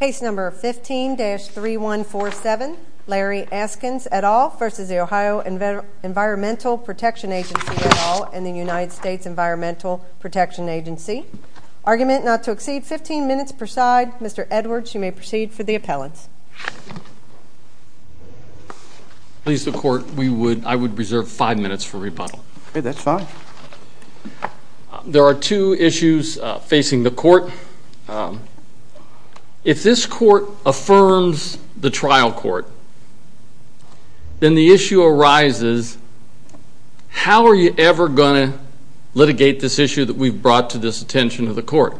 Case number 15-3147, Larry Askins, et al. v. Ohio Environmental Protection Agency, et al. and United States Environmental Protection Agency. Argument not to exceed 15 minutes per side. Mr. Edwards, you may proceed for the appellants. Please, the Court, I would reserve five minutes for rebuttal. That's fine. There are two issues facing the Court. If this Court affirms the trial court, then the issue arises, how are you ever going to litigate this issue that we've brought to this attention of the Court?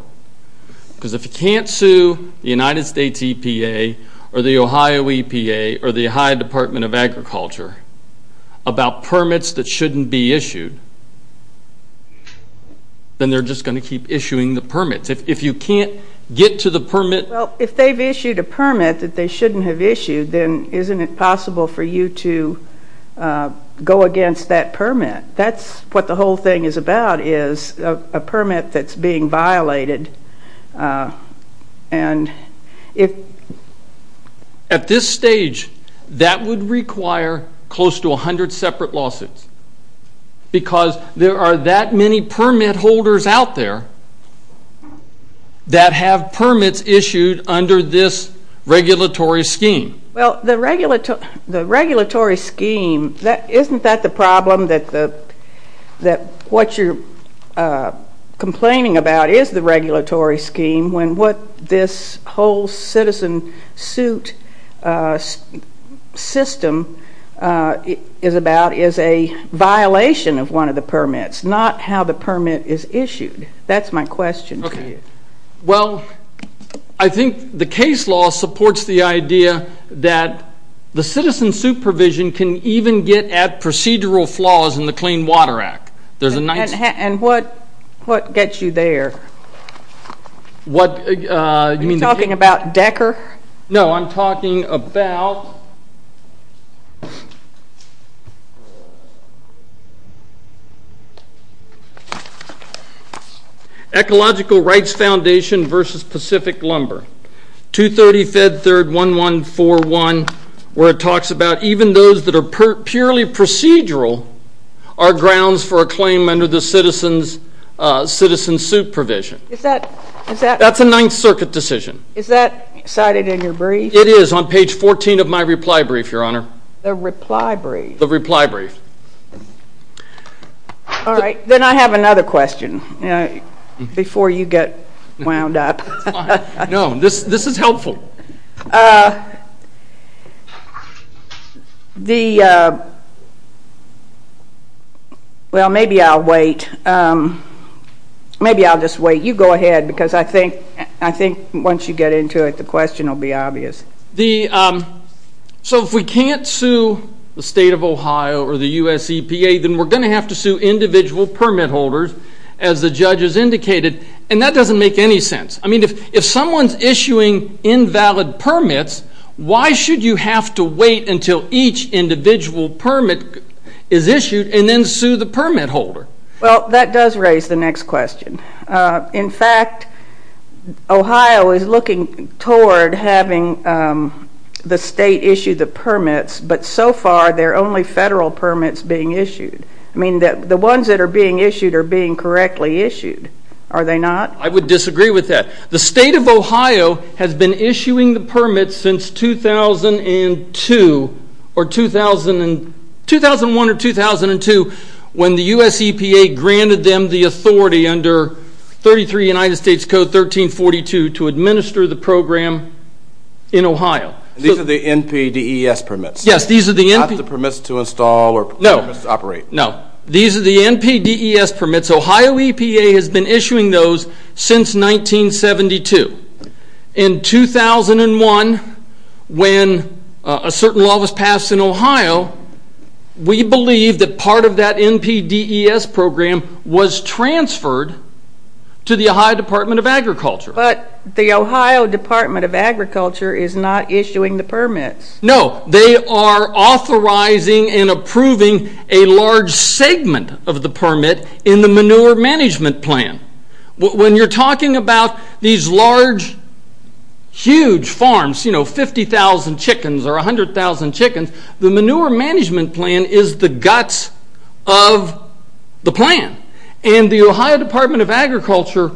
Because if you can't sue the United States EPA or the Ohio EPA or the Ohio Department of Agriculture about permits that shouldn't be issued, then they're just going to keep issuing the permits. If you can't get to the permit... Well, if they've issued a permit that they shouldn't have issued, then isn't it possible for you to go against that permit? That's what the whole thing is about, is a permit that's being violated. And if... At this stage, that would require close to 100 separate lawsuits because there are that many permit holders out there that have permits issued under this regulatory scheme. Well, the regulatory scheme, isn't that the problem, that what you're complaining about is the regulatory scheme when what this whole citizen suit system is about is a violation of one of the permits, not how the permit is issued? That's my question to you. Well, I think the case law supports the idea that the citizen supervision can even get at procedural flaws in the Clean Water Act. And what gets you there? What... Are you talking about Decker? No, I'm talking about... Ecological Rights Foundation versus Pacific Lumber. 230 Fed Third 1141, where it talks about even those that are purely procedural are grounds for a claim under the citizen's suit provision. Is that... That's a Ninth Circuit decision. Is that cited in your brief? It is on page 14 of my reply brief, Your Honor. The reply brief? The reply brief. All right, then I have another question before you get wound up. No, this is helpful. Well, maybe I'll wait. Maybe I'll just wait. You go ahead, because I think once you get into it, the question will be obvious. So if we can't sue the state of Ohio or the US EPA, then we're going to have to sue individual permit holders, as the judge has indicated. And that doesn't make any sense. I mean, if someone's issuing invalid permits, why should you have to wait until each individual permit is issued and then sue the permit holder? Well, that does raise the next question. In fact, Ohio is looking toward having the state issue the permits, but so far there are only federal permits being issued. I mean, the ones that are being issued are being correctly issued, are they not? I would disagree with that. The state of Ohio has been issuing the permits since 2001 or 2002 when the US EPA granted them the authority under 33 United States Code 1342 to administer the program in Ohio. These are the NPDES permits? Yes, these are the NPDES. Not the permits to install or permits to operate? No. These are the NPDES permits. Ohio EPA has been issuing those since 1972. In 2001, when a certain law was passed in Ohio, we believe that part of that NPDES program was transferred to the Ohio Department of Agriculture. But the Ohio Department of Agriculture is not issuing the permits. No, they are authorizing and approving a large segment of the permit in the manure management plan. When you're talking about these large, huge farms, you know, 50,000 chickens or 100,000 chickens, the manure management plan is the guts of the plan. And the Ohio Department of Agriculture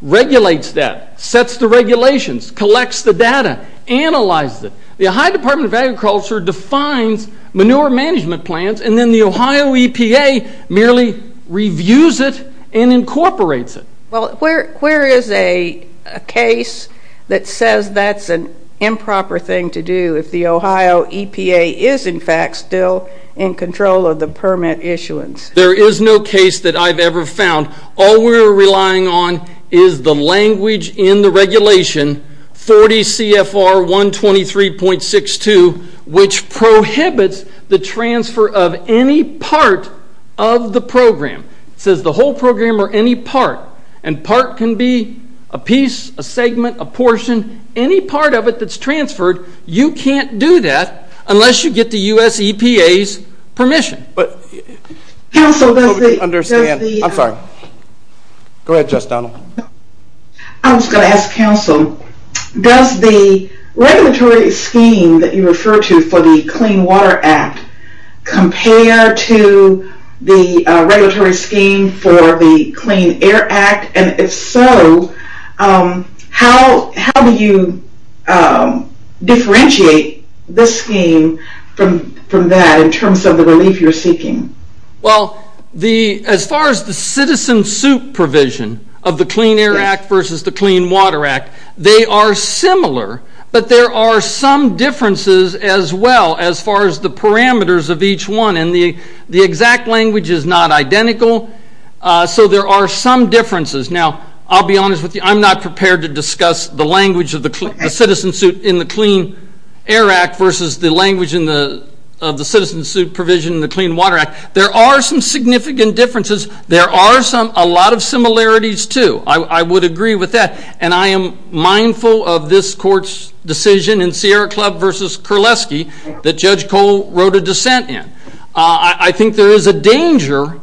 regulates that, sets the regulations, collects the data, analyzes it. The Ohio Department of Agriculture defines manure management plans, and then the Ohio EPA merely reviews it and incorporates it. Well, where is a case that says that's an improper thing to do if the Ohio EPA is, in fact, still in control of the permit issuance? There is no case that I've ever found. All we're relying on is the language in the regulation, 40 CFR 123.62, which prohibits the transfer of any part of the program. It says the whole program or any part. And part can be a piece, a segment, a portion, any part of it that's transferred. You can't do that unless you get the U.S. EPA's permission. Council, does the- I'm sorry. Go ahead, Justice Donald. I was going to ask, Council, does the regulatory scheme that you refer to for the Clean Water Act compare to the regulatory scheme for the Clean Air Act? And if so, how do you differentiate this scheme from that in terms of the relief you're seeking? Well, as far as the citizen suit provision of the Clean Air Act versus the Clean Water Act, they are similar, but there are some differences as well as far as the parameters of each one. And the exact language is not identical, so there are some differences. Now, I'll be honest with you. I'm not prepared to discuss the language of the citizen suit in the Clean Air Act versus the language of the citizen suit provision in the Clean Water Act. There are some significant differences. There are a lot of similarities, too. I would agree with that, and I am mindful of this Court's decision in Sierra Club v. Kurleski that Judge Cole wrote a dissent in. I think there is a danger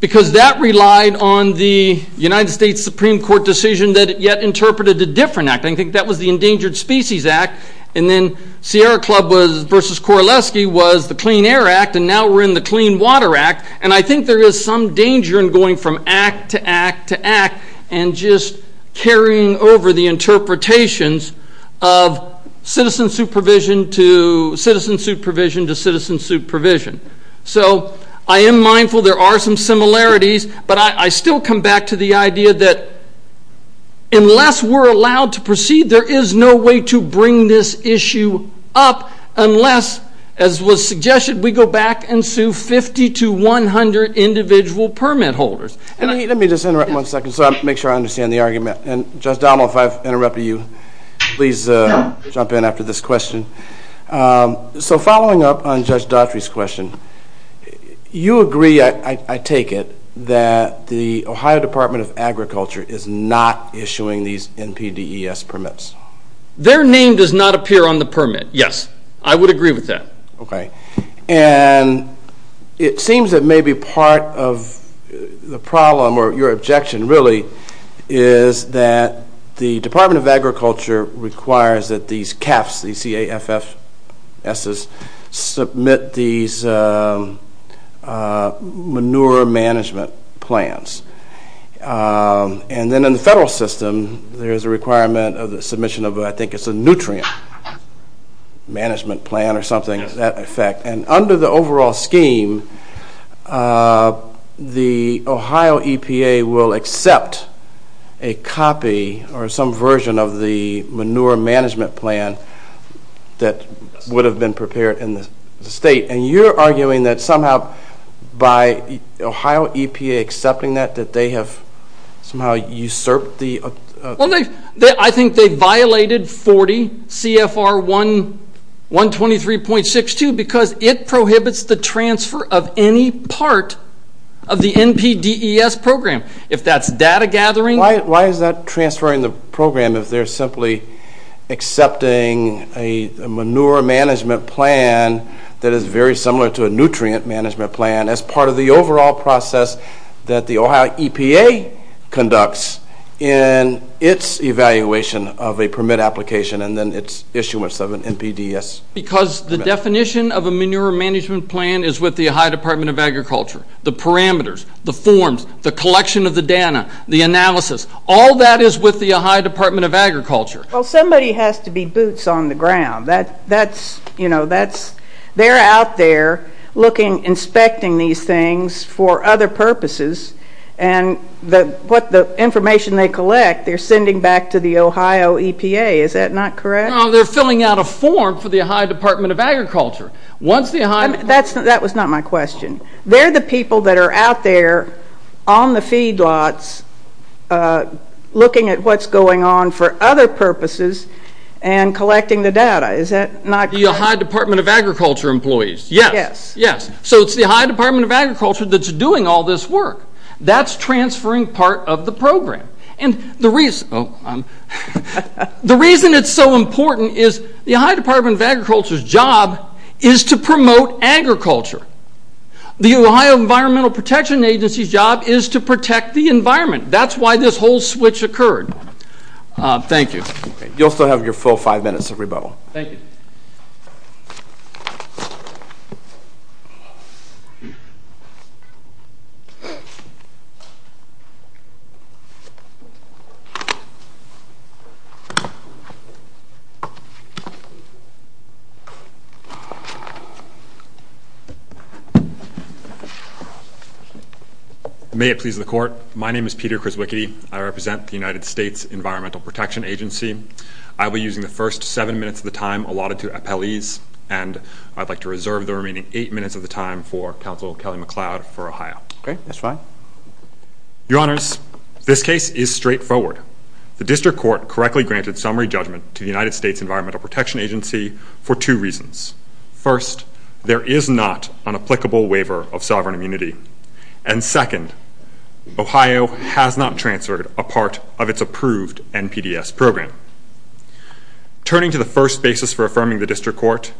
because that relied on the United States Supreme Court decision that it yet interpreted a different act. I think that was the Endangered Species Act. And then Sierra Club v. Kurleski was the Clean Air Act, and now we're in the Clean Water Act. And I think there is some danger in going from act to act to act and just carrying over the interpretations of citizen suit provision to citizen suit provision to citizen suit provision. So I am mindful there are some similarities, but I still come back to the idea that unless we're allowed to proceed, there is no way to bring this issue up unless, as was suggested, we go back and sue 50 to 100 individual permit holders. Let me just interrupt one second so I can make sure I understand the argument. And Judge Dommel, if I've interrupted you, please jump in after this question. So following up on Judge Daughtry's question, you agree, I take it, that the Ohio Department of Agriculture is not issuing these NPDES permits? Their name does not appear on the permit, yes. I would agree with that. Okay. And it seems that maybe part of the problem or your objection really is that the Department of Agriculture requires that these CAFFs, these C-A-F-F-Ss, submit these manure management plans. And then in the federal system, there is a requirement of the submission of, I think, it's a nutrient management plan or something to that effect. And under the overall scheme, the Ohio EPA will accept a copy or some version of the manure management plan that would have been prepared in the state. And you're arguing that somehow by the Ohio EPA accepting that, that they have somehow usurped the... Well, I think they violated 40 CFR 123.62 because it prohibits the transfer of any part of the NPDES program. If that's data gathering... Why is that transferring the program if they're simply accepting a manure management plan that is very similar to a nutrient management plan as part of the overall process that the Ohio EPA conducts in its evaluation of a permit application and then its issuance of an NPDES permit? Because the definition of a manure management plan is with the Ohio Department of Agriculture. The parameters, the forms, the collection of the data, the analysis, all that is with the Ohio Department of Agriculture. Well, somebody has to be boots on the ground. They're out there inspecting these things for other purposes, and the information they collect they're sending back to the Ohio EPA. Is that not correct? No, they're filling out a form for the Ohio Department of Agriculture. That was not my question. They're the people that are out there on the feedlots looking at what's going on for other purposes and collecting the data. Is that not correct? The Ohio Department of Agriculture employees, yes. So it's the Ohio Department of Agriculture that's doing all this work. That's transferring part of the program. And the reason it's so important is the Ohio Department of Agriculture's job is to promote agriculture. The Ohio Environmental Protection Agency's job is to protect the environment. That's why this whole switch occurred. Thank you. You'll still have your full five minutes of rebuttal. Thank you. May it please the Court. My name is Peter Krizwicki. I represent the United States Environmental Protection Agency. I will be using the first seven minutes of the time allotted to appellees, and I'd like to reserve the remaining eight minutes of the time for Counsel Kelly MacLeod for Ohio. Okay. That's fine. Your Honors, this case is straightforward. The district court correctly granted summary judgment to the United States Environmental Protection Agency for two reasons. First, there is not an applicable waiver of sovereign immunity. And second, Ohio has not transferred a part of its approved NPDES program. Turning to the first basis for affirming the district court,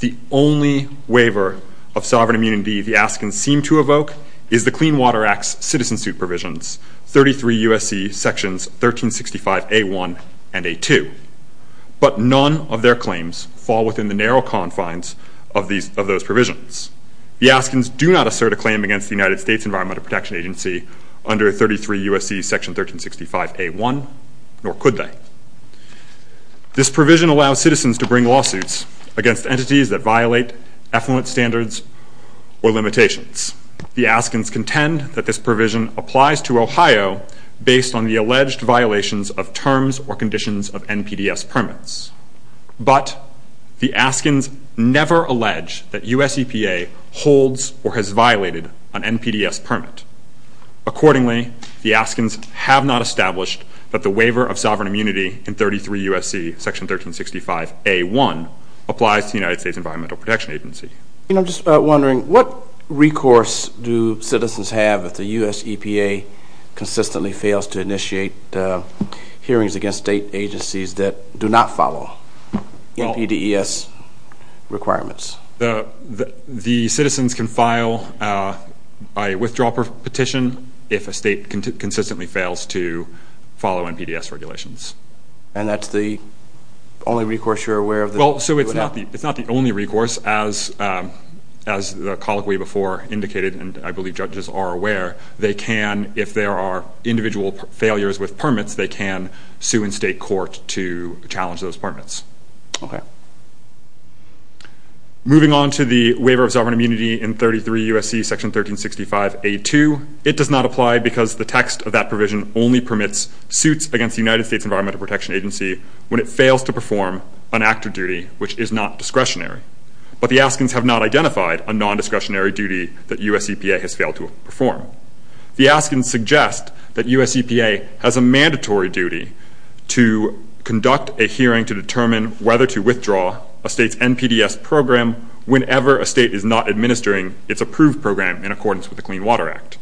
the only waiver of sovereign immunity the Askins seem to evoke is the Clean Water Act's citizen suit provisions, 33 U.S.C. Sections 1365a1 and a2. But none of their claims fall within the narrow confines of those provisions. The Askins do not assert a claim against the United States Environmental Protection Agency under 33 U.S.C. Section 1365a1, nor could they. This provision allows citizens to bring lawsuits against entities that violate effluent standards or limitations. based on the alleged violations of terms or conditions of NPDES permits. But the Askins never allege that U.S. EPA holds or has violated an NPDES permit. Accordingly, the Askins have not established that the waiver of sovereign immunity in 33 U.S.C. Section 1365a1 applies to the United States Environmental Protection Agency. And I'm just wondering, what recourse do citizens have if the U.S. EPA consistently fails to initiate hearings against state agencies that do not follow NPDES requirements? The citizens can file a withdrawal petition if a state consistently fails to follow NPDES regulations. And that's the only recourse you're aware of? Well, so it's not the only recourse. As the colloquy before indicated, and I believe judges are aware, they can, if there are individual failures with permits, they can sue in state court to challenge those permits. Okay. Moving on to the waiver of sovereign immunity in 33 U.S.C. Section 1365a2, it does not apply because the text of that provision only permits suits against the United States Environmental Protection Agency when it fails to perform an active duty which is not discretionary. But the Askins have not identified a nondiscretionary duty that U.S. EPA has failed to perform. The Askins suggest that U.S. EPA has a mandatory duty to conduct a hearing to determine whether to withdraw a state's NPDES program whenever a state is not administering its approved program in accordance with the Clean Water Act.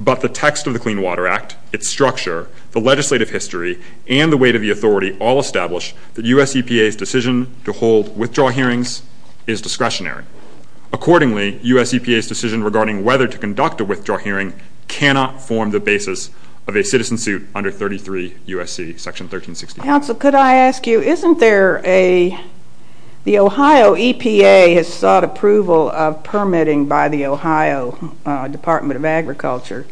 But the text of the Clean Water Act, its structure, the legislative history, and the weight of the authority all establish that U.S. EPA's decision to hold withdrawal hearings is discretionary. Accordingly, U.S. EPA's decision regarding whether to conduct a withdrawal hearing cannot form the basis of a citizen suit under 33 U.S.C. Section 1365. Counsel, could I ask you, isn't there a, the Ohio EPA has sought approval of permitting by the Ohio Department of Agriculture,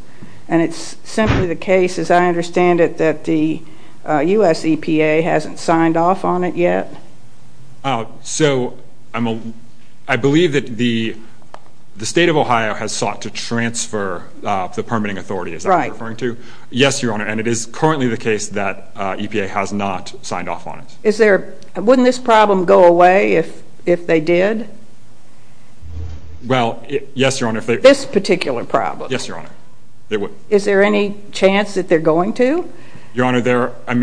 and it's simply the case, as I understand it, that the U.S. EPA hasn't signed off on it yet? So I believe that the state of Ohio has sought to transfer the permitting authority, is that what you're referring to? Right. Yes, Your Honor, and it is currently the case that EPA has not signed off on it. Is there, wouldn't this problem go away if they did? Well, yes, Your Honor. This particular problem. Yes, Your Honor. Is there any chance that they're going to? Your Honor,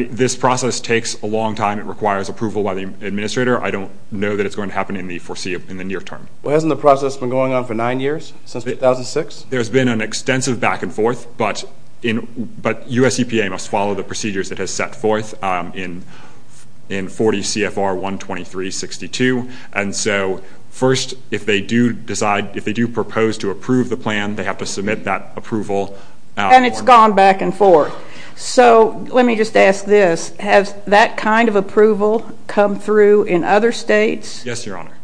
this process takes a long time. It requires approval by the administrator. I don't know that it's going to happen in the near term. Well, hasn't the process been going on for nine years, since 2006? There's been an extensive back and forth, but U.S. EPA must follow the procedures it has set forth in 40 CFR 123-62, and so first, if they do decide, if they do propose to approve the plan, they have to submit that approval. And it's gone back and forth. So let me just ask this. Has that kind of approval come through in other states? Yes, Your Honor.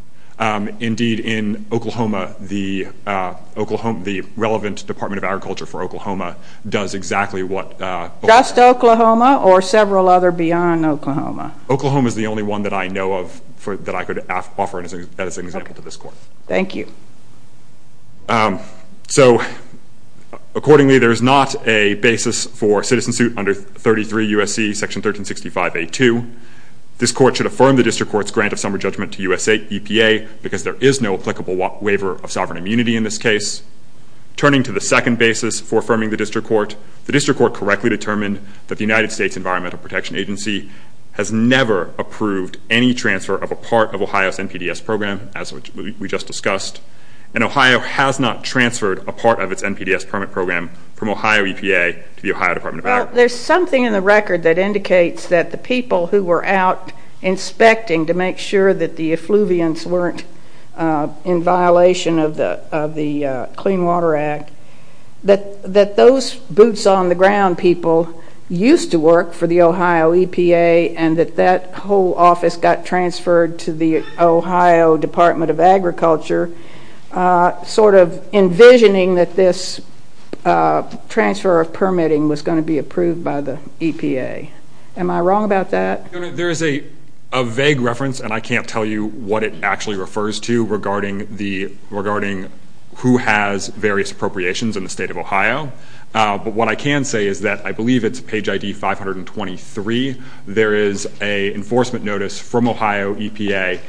Indeed, in Oklahoma, the relevant Department of Agriculture for Oklahoma does exactly what. Just Oklahoma or several other beyond Oklahoma? Oklahoma is the only one that I know of that I could offer as an example to this Court. Thank you. So accordingly, there is not a basis for a citizen suit under 33 U.S.C. section 1365A2. This Court should affirm the District Court's grant of summary judgment to U.S. EPA because there is no applicable waiver of sovereign immunity in this case. Turning to the second basis for affirming the District Court, the District Court correctly determined that the United States Environmental Protection Agency has never approved any transfer of a part of Ohio's NPDES program, as we just discussed, and Ohio has not transferred a part of its NPDES permit program from Ohio EPA to the Ohio Department of Agriculture. Well, there's something in the record that indicates that the people who were out inspecting to make sure that the effluvians weren't in violation of the Clean Water Act, that those boots-on-the-ground people used to work for the Ohio EPA and that that whole office got transferred to the Ohio Department of Agriculture, sort of envisioning that this transfer of permitting was going to be approved by the EPA. Am I wrong about that? There is a vague reference, and I can't tell you what it actually refers to, regarding who has various appropriations in the state of Ohio, but what I can say is that I believe it's page ID 523. There is an enforcement notice from Ohio EPA,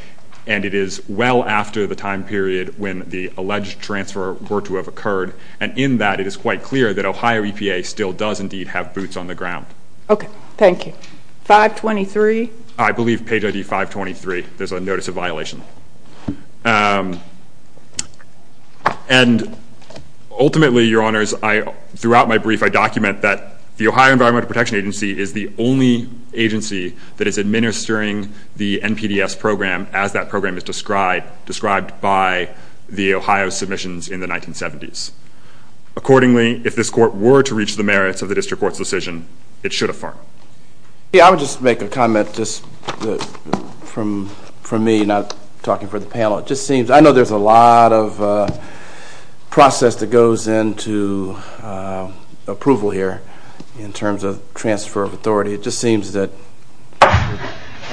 and it is well after the time period when the alleged transfer were to have occurred, and in that it is quite clear that Ohio EPA still does indeed have boots-on-the-ground. Okay, thank you. 523? I believe page ID 523. There's a notice of violation. And ultimately, Your Honors, throughout my brief, I document that the Ohio Environmental Protection Agency is the only agency that is administering the NPDES program as that program is described by the Ohio submissions in the 1970s. Accordingly, if this court were to reach the merits of the district court's decision, it should affirm. Yeah, I would just make a comment just from me, not talking for the panel. It just seems I know there's a lot of process that goes into approval here in terms of transfer of authority. It just seems that there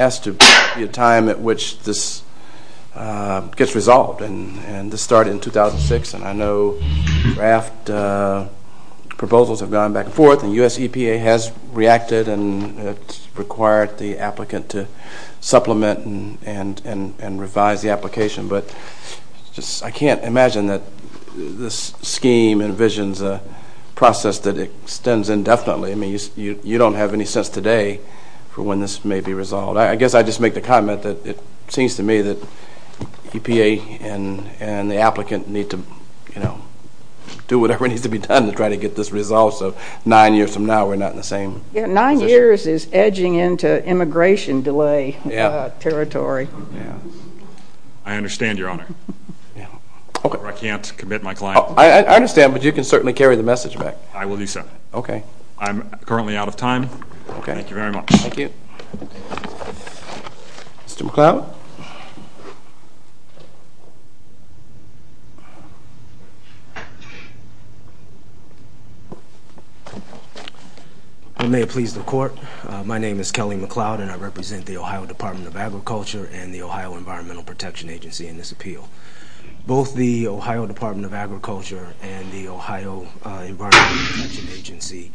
has to be a time at which this gets resolved, and this started in 2006, and I know draft proposals have gone back and forth, and U.S. EPA has reacted and required the applicant to supplement and revise the application. But I can't imagine that this scheme envisions a process that extends indefinitely. I mean, you don't have any sense today for when this may be resolved. I guess I'd just make the comment that it seems to me that EPA of nine years from now we're not in the same position. Yeah, nine years is edging into immigration delay territory. I understand, Your Honor. I can't commit my client. I understand, but you can certainly carry the message back. I will do so. I'm currently out of time. Thank you very much. Thank you. Mr. McCloud? May it please the Court. My name is Kelly McCloud, and I represent the Ohio Department of Agriculture and the Ohio Environmental Protection Agency in this appeal. Both the Ohio Department of Agriculture and the Ohio Environmental Protection Agency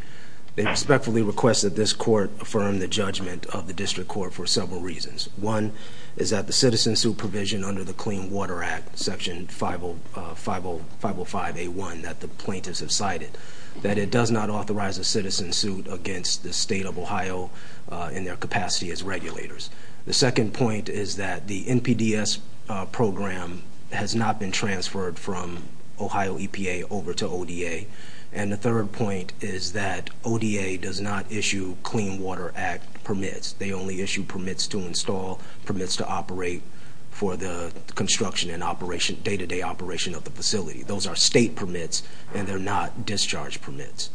respectfully request that this court affirm the judgment of the district court for several reasons. One is that the citizen supervision under the Clean Water Act, Section 505A1 that the plaintiffs have cited, that it does not authorize a citizen suit against the State of Ohio in their capacity as regulators. The second point is that the NPDES program has not been transferred from Ohio EPA over to ODA. And the third point is that ODA does not issue Clean Water Act permits. They only issue permits to install, permits to operate for the construction and day-to-day operation of the facility. Those are State permits, and they're not discharge permits.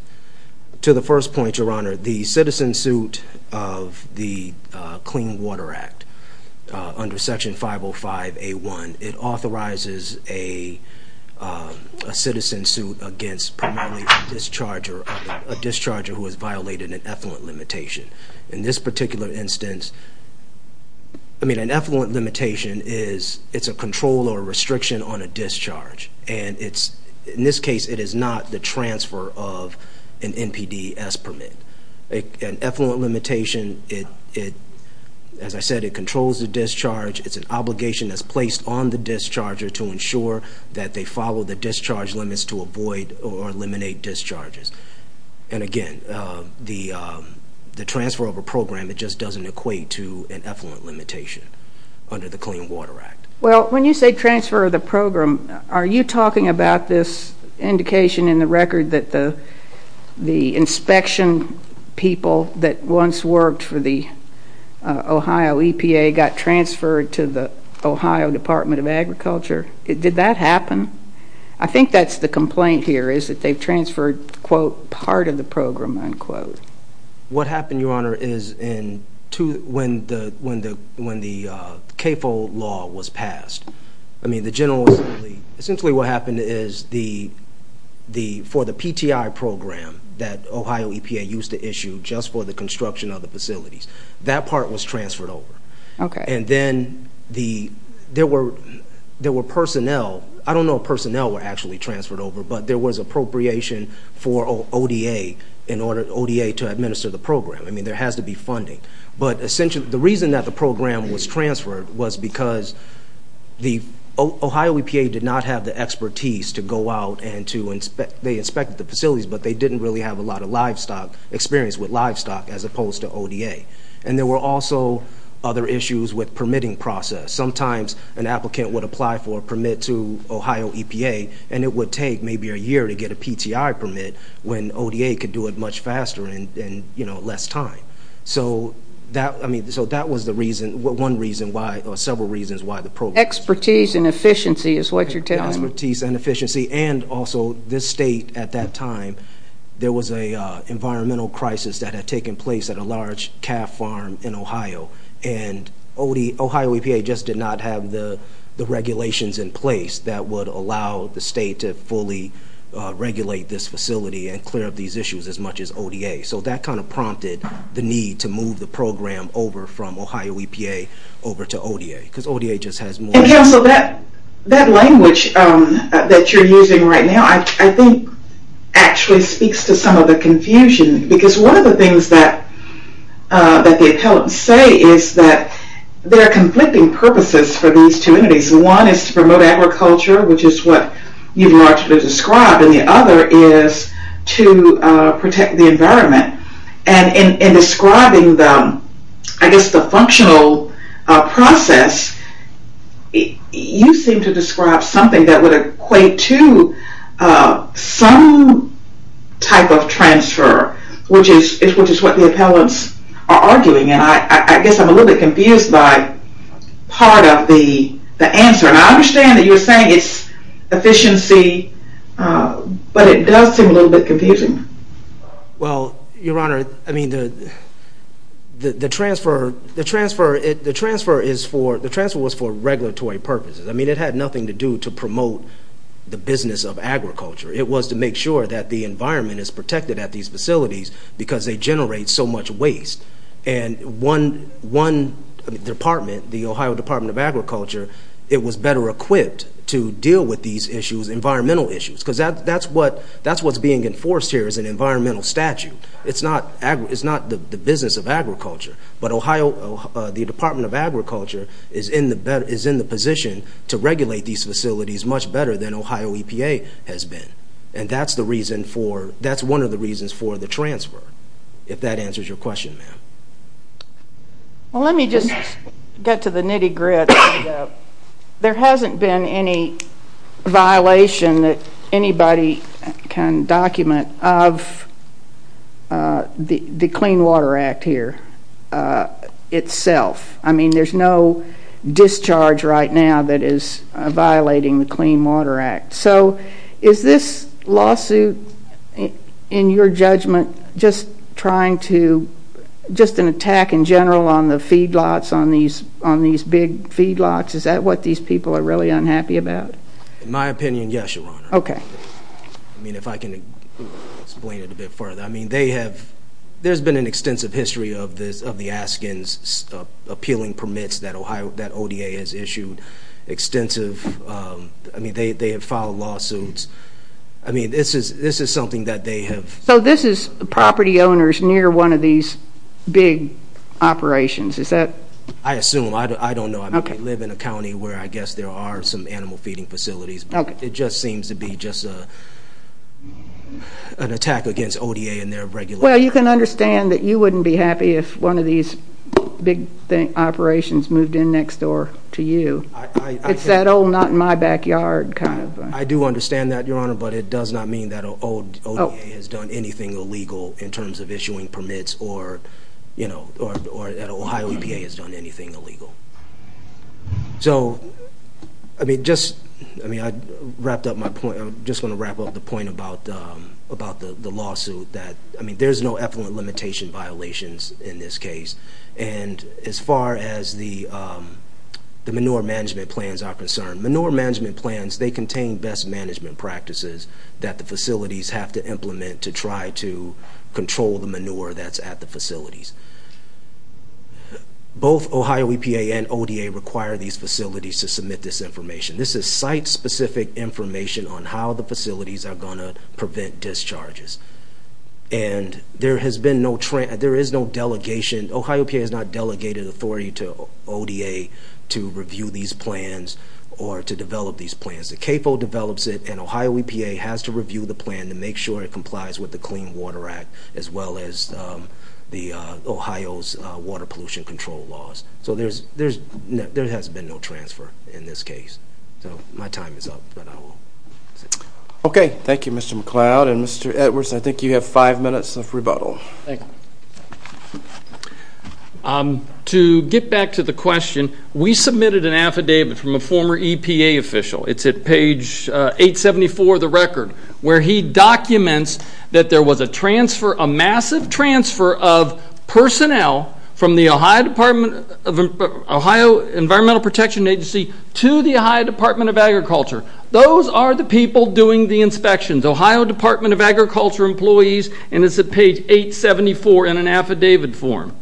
To the first point, Your Honor, the citizen suit of the Clean Water Act under Section 505A1, it authorizes a citizen suit against primarily a discharger who has violated an effluent limitation. In this particular instance, I mean, an effluent limitation is it's a control or a restriction on a discharge. And in this case, it is not the transfer of an NPDES permit. An effluent limitation, as I said, it controls the discharge. It's an obligation that's placed on the discharger to ensure that they follow the discharge limits to avoid or eliminate discharges. And again, the transfer of a program, it just doesn't equate to an effluent limitation under the Clean Water Act. Well, when you say transfer of the program, are you talking about this indication in the record that the inspection people that once worked for the Ohio EPA got transferred to the Ohio Department of Agriculture? Did that happen? I think that's the complaint here is that they've transferred, quote, part of the program, unquote. What happened, Your Honor, is when the CAFO law was passed, I mean, essentially what happened is for the PTI program that Ohio EPA used to issue just for the construction of the facilities, that part was transferred over. And then there were personnel, I don't know if personnel were actually transferred over, but there was appropriation for ODA to administer the program. I mean, there has to be funding. But essentially the reason that the program was transferred was because the Ohio EPA did not have the expertise to go out and to inspect. They inspected the facilities, but they didn't really have a lot of experience with livestock as opposed to ODA. And there were also other issues with permitting process. Sometimes an applicant would apply for a permit to Ohio EPA, and it would take maybe a year to get a PTI permit when ODA could do it much faster and, you know, less time. So that was one reason why or several reasons why the program was transferred. Expertise and efficiency is what you're telling me. Expertise and efficiency. And also this state at that time, there was an environmental crisis that had taken place at a large calf farm in Ohio. And Ohio EPA just did not have the regulations in place that would allow the state to fully regulate this facility and clear up these issues as much as ODA. So that kind of prompted the need to move the program over from Ohio EPA over to ODA because ODA just has more. And, Council, that language that you're using right now, I think actually speaks to some of the confusion because one of the things that the appellants say is that there are conflicting purposes for these two entities. One is to promote agriculture, which is what you've largely described, and the other is to protect the environment. And in describing them, I guess the functional process, you seem to describe something that would equate to some type of transfer which is what the appellants are arguing. And I guess I'm a little bit confused by part of the answer. And I understand that you're saying it's efficiency, but it does seem a little bit confusing. Well, Your Honor, the transfer was for regulatory purposes. I mean, it had nothing to do to promote the business of agriculture. It was to make sure that the environment is protected at these facilities because they generate so much waste. And one department, the Ohio Department of Agriculture, it was better equipped to deal with these issues, environmental issues, because that's what's being enforced here as an environmental statute. It's not the business of agriculture. But the Department of Agriculture is in the position to regulate these facilities much better than Ohio EPA has been. And that's one of the reasons for the transfer, if that answers your question, ma'am. Well, let me just get to the nitty-gritty. There hasn't been any violation that anybody can document of the Clean Water Act here itself. I mean, there's no discharge right now that is violating the Clean Water Act. So is this lawsuit, in your judgment, just an attack in general on the feedlots, on these big feedlots? Is that what these people are really unhappy about? In my opinion, yes, Your Honor. I mean, if I can explain it a bit further. There's been an extensive history of the Askins appealing permits that ODA has issued. Extensive. I mean, they have filed lawsuits. I mean, this is something that they have— So this is property owners near one of these big operations. Is that— I assume. I don't know. I mean, they live in a county where I guess there are some animal feeding facilities. It just seems to be just an attack against ODA and their regulations. Well, you can understand that you wouldn't be happy if one of these big operations moved in next door to you. It's that old not in my backyard kind of— I do understand that, Your Honor, but it does not mean that ODA has done anything illegal in terms of issuing permits or that Ohio EPA has done anything illegal. So, I mean, just— I mean, I wrapped up my point. I just want to wrap up the point about the lawsuit that— I mean, there's no effluent limitation violations in this case. And as far as the manure management plans are concerned, manure management plans, they contain best management practices that the facilities have to implement to try to control the manure that's at the facilities. Both Ohio EPA and ODA require these facilities to submit this information. This is site-specific information on how the facilities are going to prevent discharges. And there has been no—there is no delegation. Ohio EPA has not delegated authority to ODA to review these plans or to develop these plans. The CAFO develops it, and Ohio EPA has to review the plan and to make sure it complies with the Clean Water Act as well as the Ohio's water pollution control laws. So there has been no transfer in this case. So my time is up, but I will— Okay. Thank you, Mr. McCloud. And, Mr. Edwards, I think you have five minutes of rebuttal. Thank you. To get back to the question, we submitted an affidavit from a former EPA official. It's at page 874 of the record, where he documents that there was a transfer, a massive transfer of personnel from the Ohio Department of— Ohio Environmental Protection Agency to the Ohio Department of Agriculture. Those are the people doing the inspections, Ohio Department of Agriculture employees, and it's at page 874 in an affidavit form.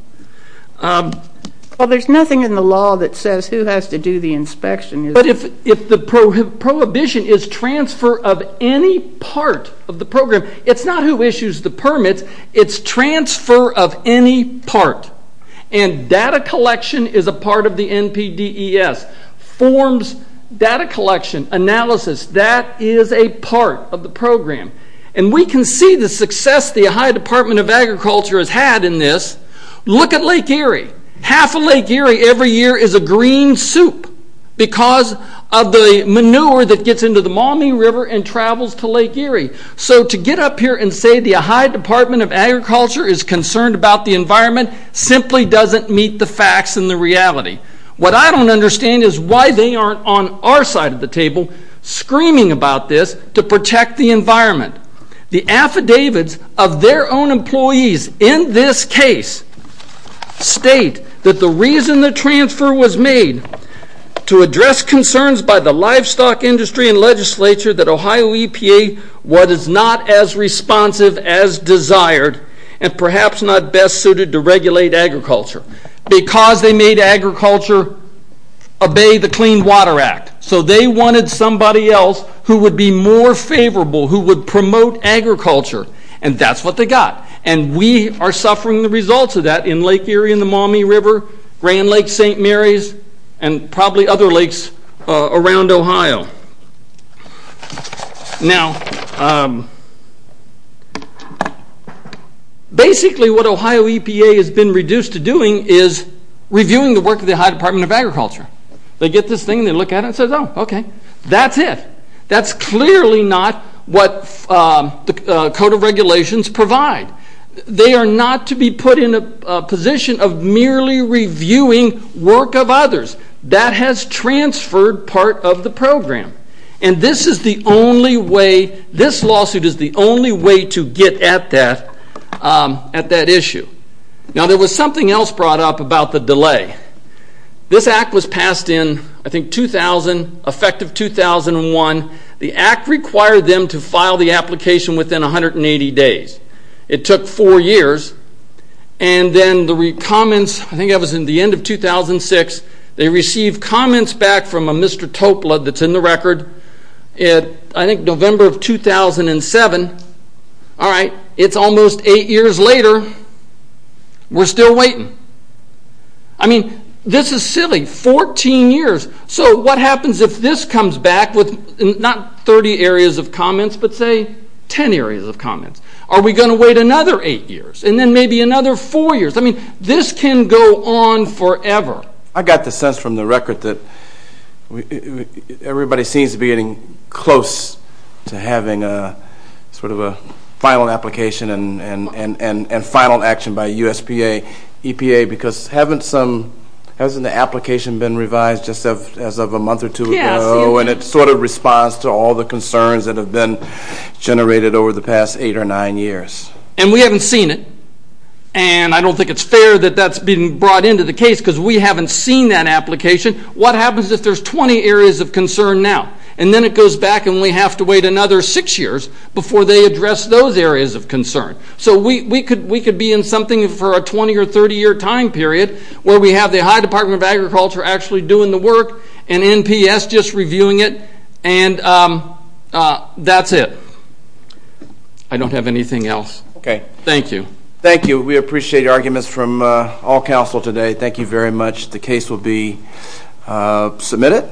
Well, there's nothing in the law that says who has to do the inspection. But if the prohibition is transfer of any part of the program, it's not who issues the permits. It's transfer of any part. And data collection is a part of the NPDES. Forms, data collection, analysis, that is a part of the program. And we can see the success the Ohio Department of Agriculture has had in this. Look at Lake Erie. Half of Lake Erie every year is a green soup because of the manure that gets into the Maumee River and travels to Lake Erie. So to get up here and say the Ohio Department of Agriculture is concerned about the environment simply doesn't meet the facts and the reality. What I don't understand is why they aren't on our side of the table screaming about this to protect the environment. The affidavits of their own employees in this case state that the reason the transfer was made to address concerns by the livestock industry and legislature that Ohio EPA was not as responsive as desired and perhaps not best suited to regulate agriculture because they made agriculture obey the Clean Water Act. So they wanted somebody else who would be more favorable, who would promote agriculture, and that's what they got. And we are suffering the results of that in Lake Erie and the Maumee River, Grand Lakes, St. Mary's, and probably other lakes around Ohio. Now, basically what Ohio EPA has been reduced to doing is reviewing the work of the Ohio Department of Agriculture. They get this thing and they look at it and say, oh, okay, that's it. That's clearly not what the Code of Regulations provide. They are not to be put in a position of merely reviewing work of others. That has transferred part of the program. And this is the only way, this lawsuit is the only way to get at that issue. Now, there was something else brought up about the delay. This Act was passed in, I think, 2000, effective 2001. The Act required them to file the application within 180 days. It took four years. And then the comments, I think that was in the end of 2006, they received comments back from a Mr. Topla that's in the record. I think November of 2007, all right, it's almost eight years later. We're still waiting. I mean, this is silly, 14 years. So what happens if this comes back with not 30 areas of comments, but, say, 10 areas of comments? Are we going to wait another eight years and then maybe another four years? I mean, this can go on forever. I got the sense from the record that everybody seems to be getting close to having sort of a final application and final action by USPA, EPA, because hasn't the application been revised just as of a month or two ago? Yes. And it sort of responds to all the concerns that have been generated over the past eight or nine years. And we haven't seen it. And I don't think it's fair that that's being brought into the case because we haven't seen that application. What happens if there's 20 areas of concern now? And then it goes back and we have to wait another six years before they address those areas of concern. So we could be in something for a 20- or 30-year time period where we have the High Department of Agriculture actually doing the work and NPS just reviewing it, and that's it. I don't have anything else. Okay. Thank you. Thank you. We appreciate arguments from all council today. Thank you very much. The case will be submitted.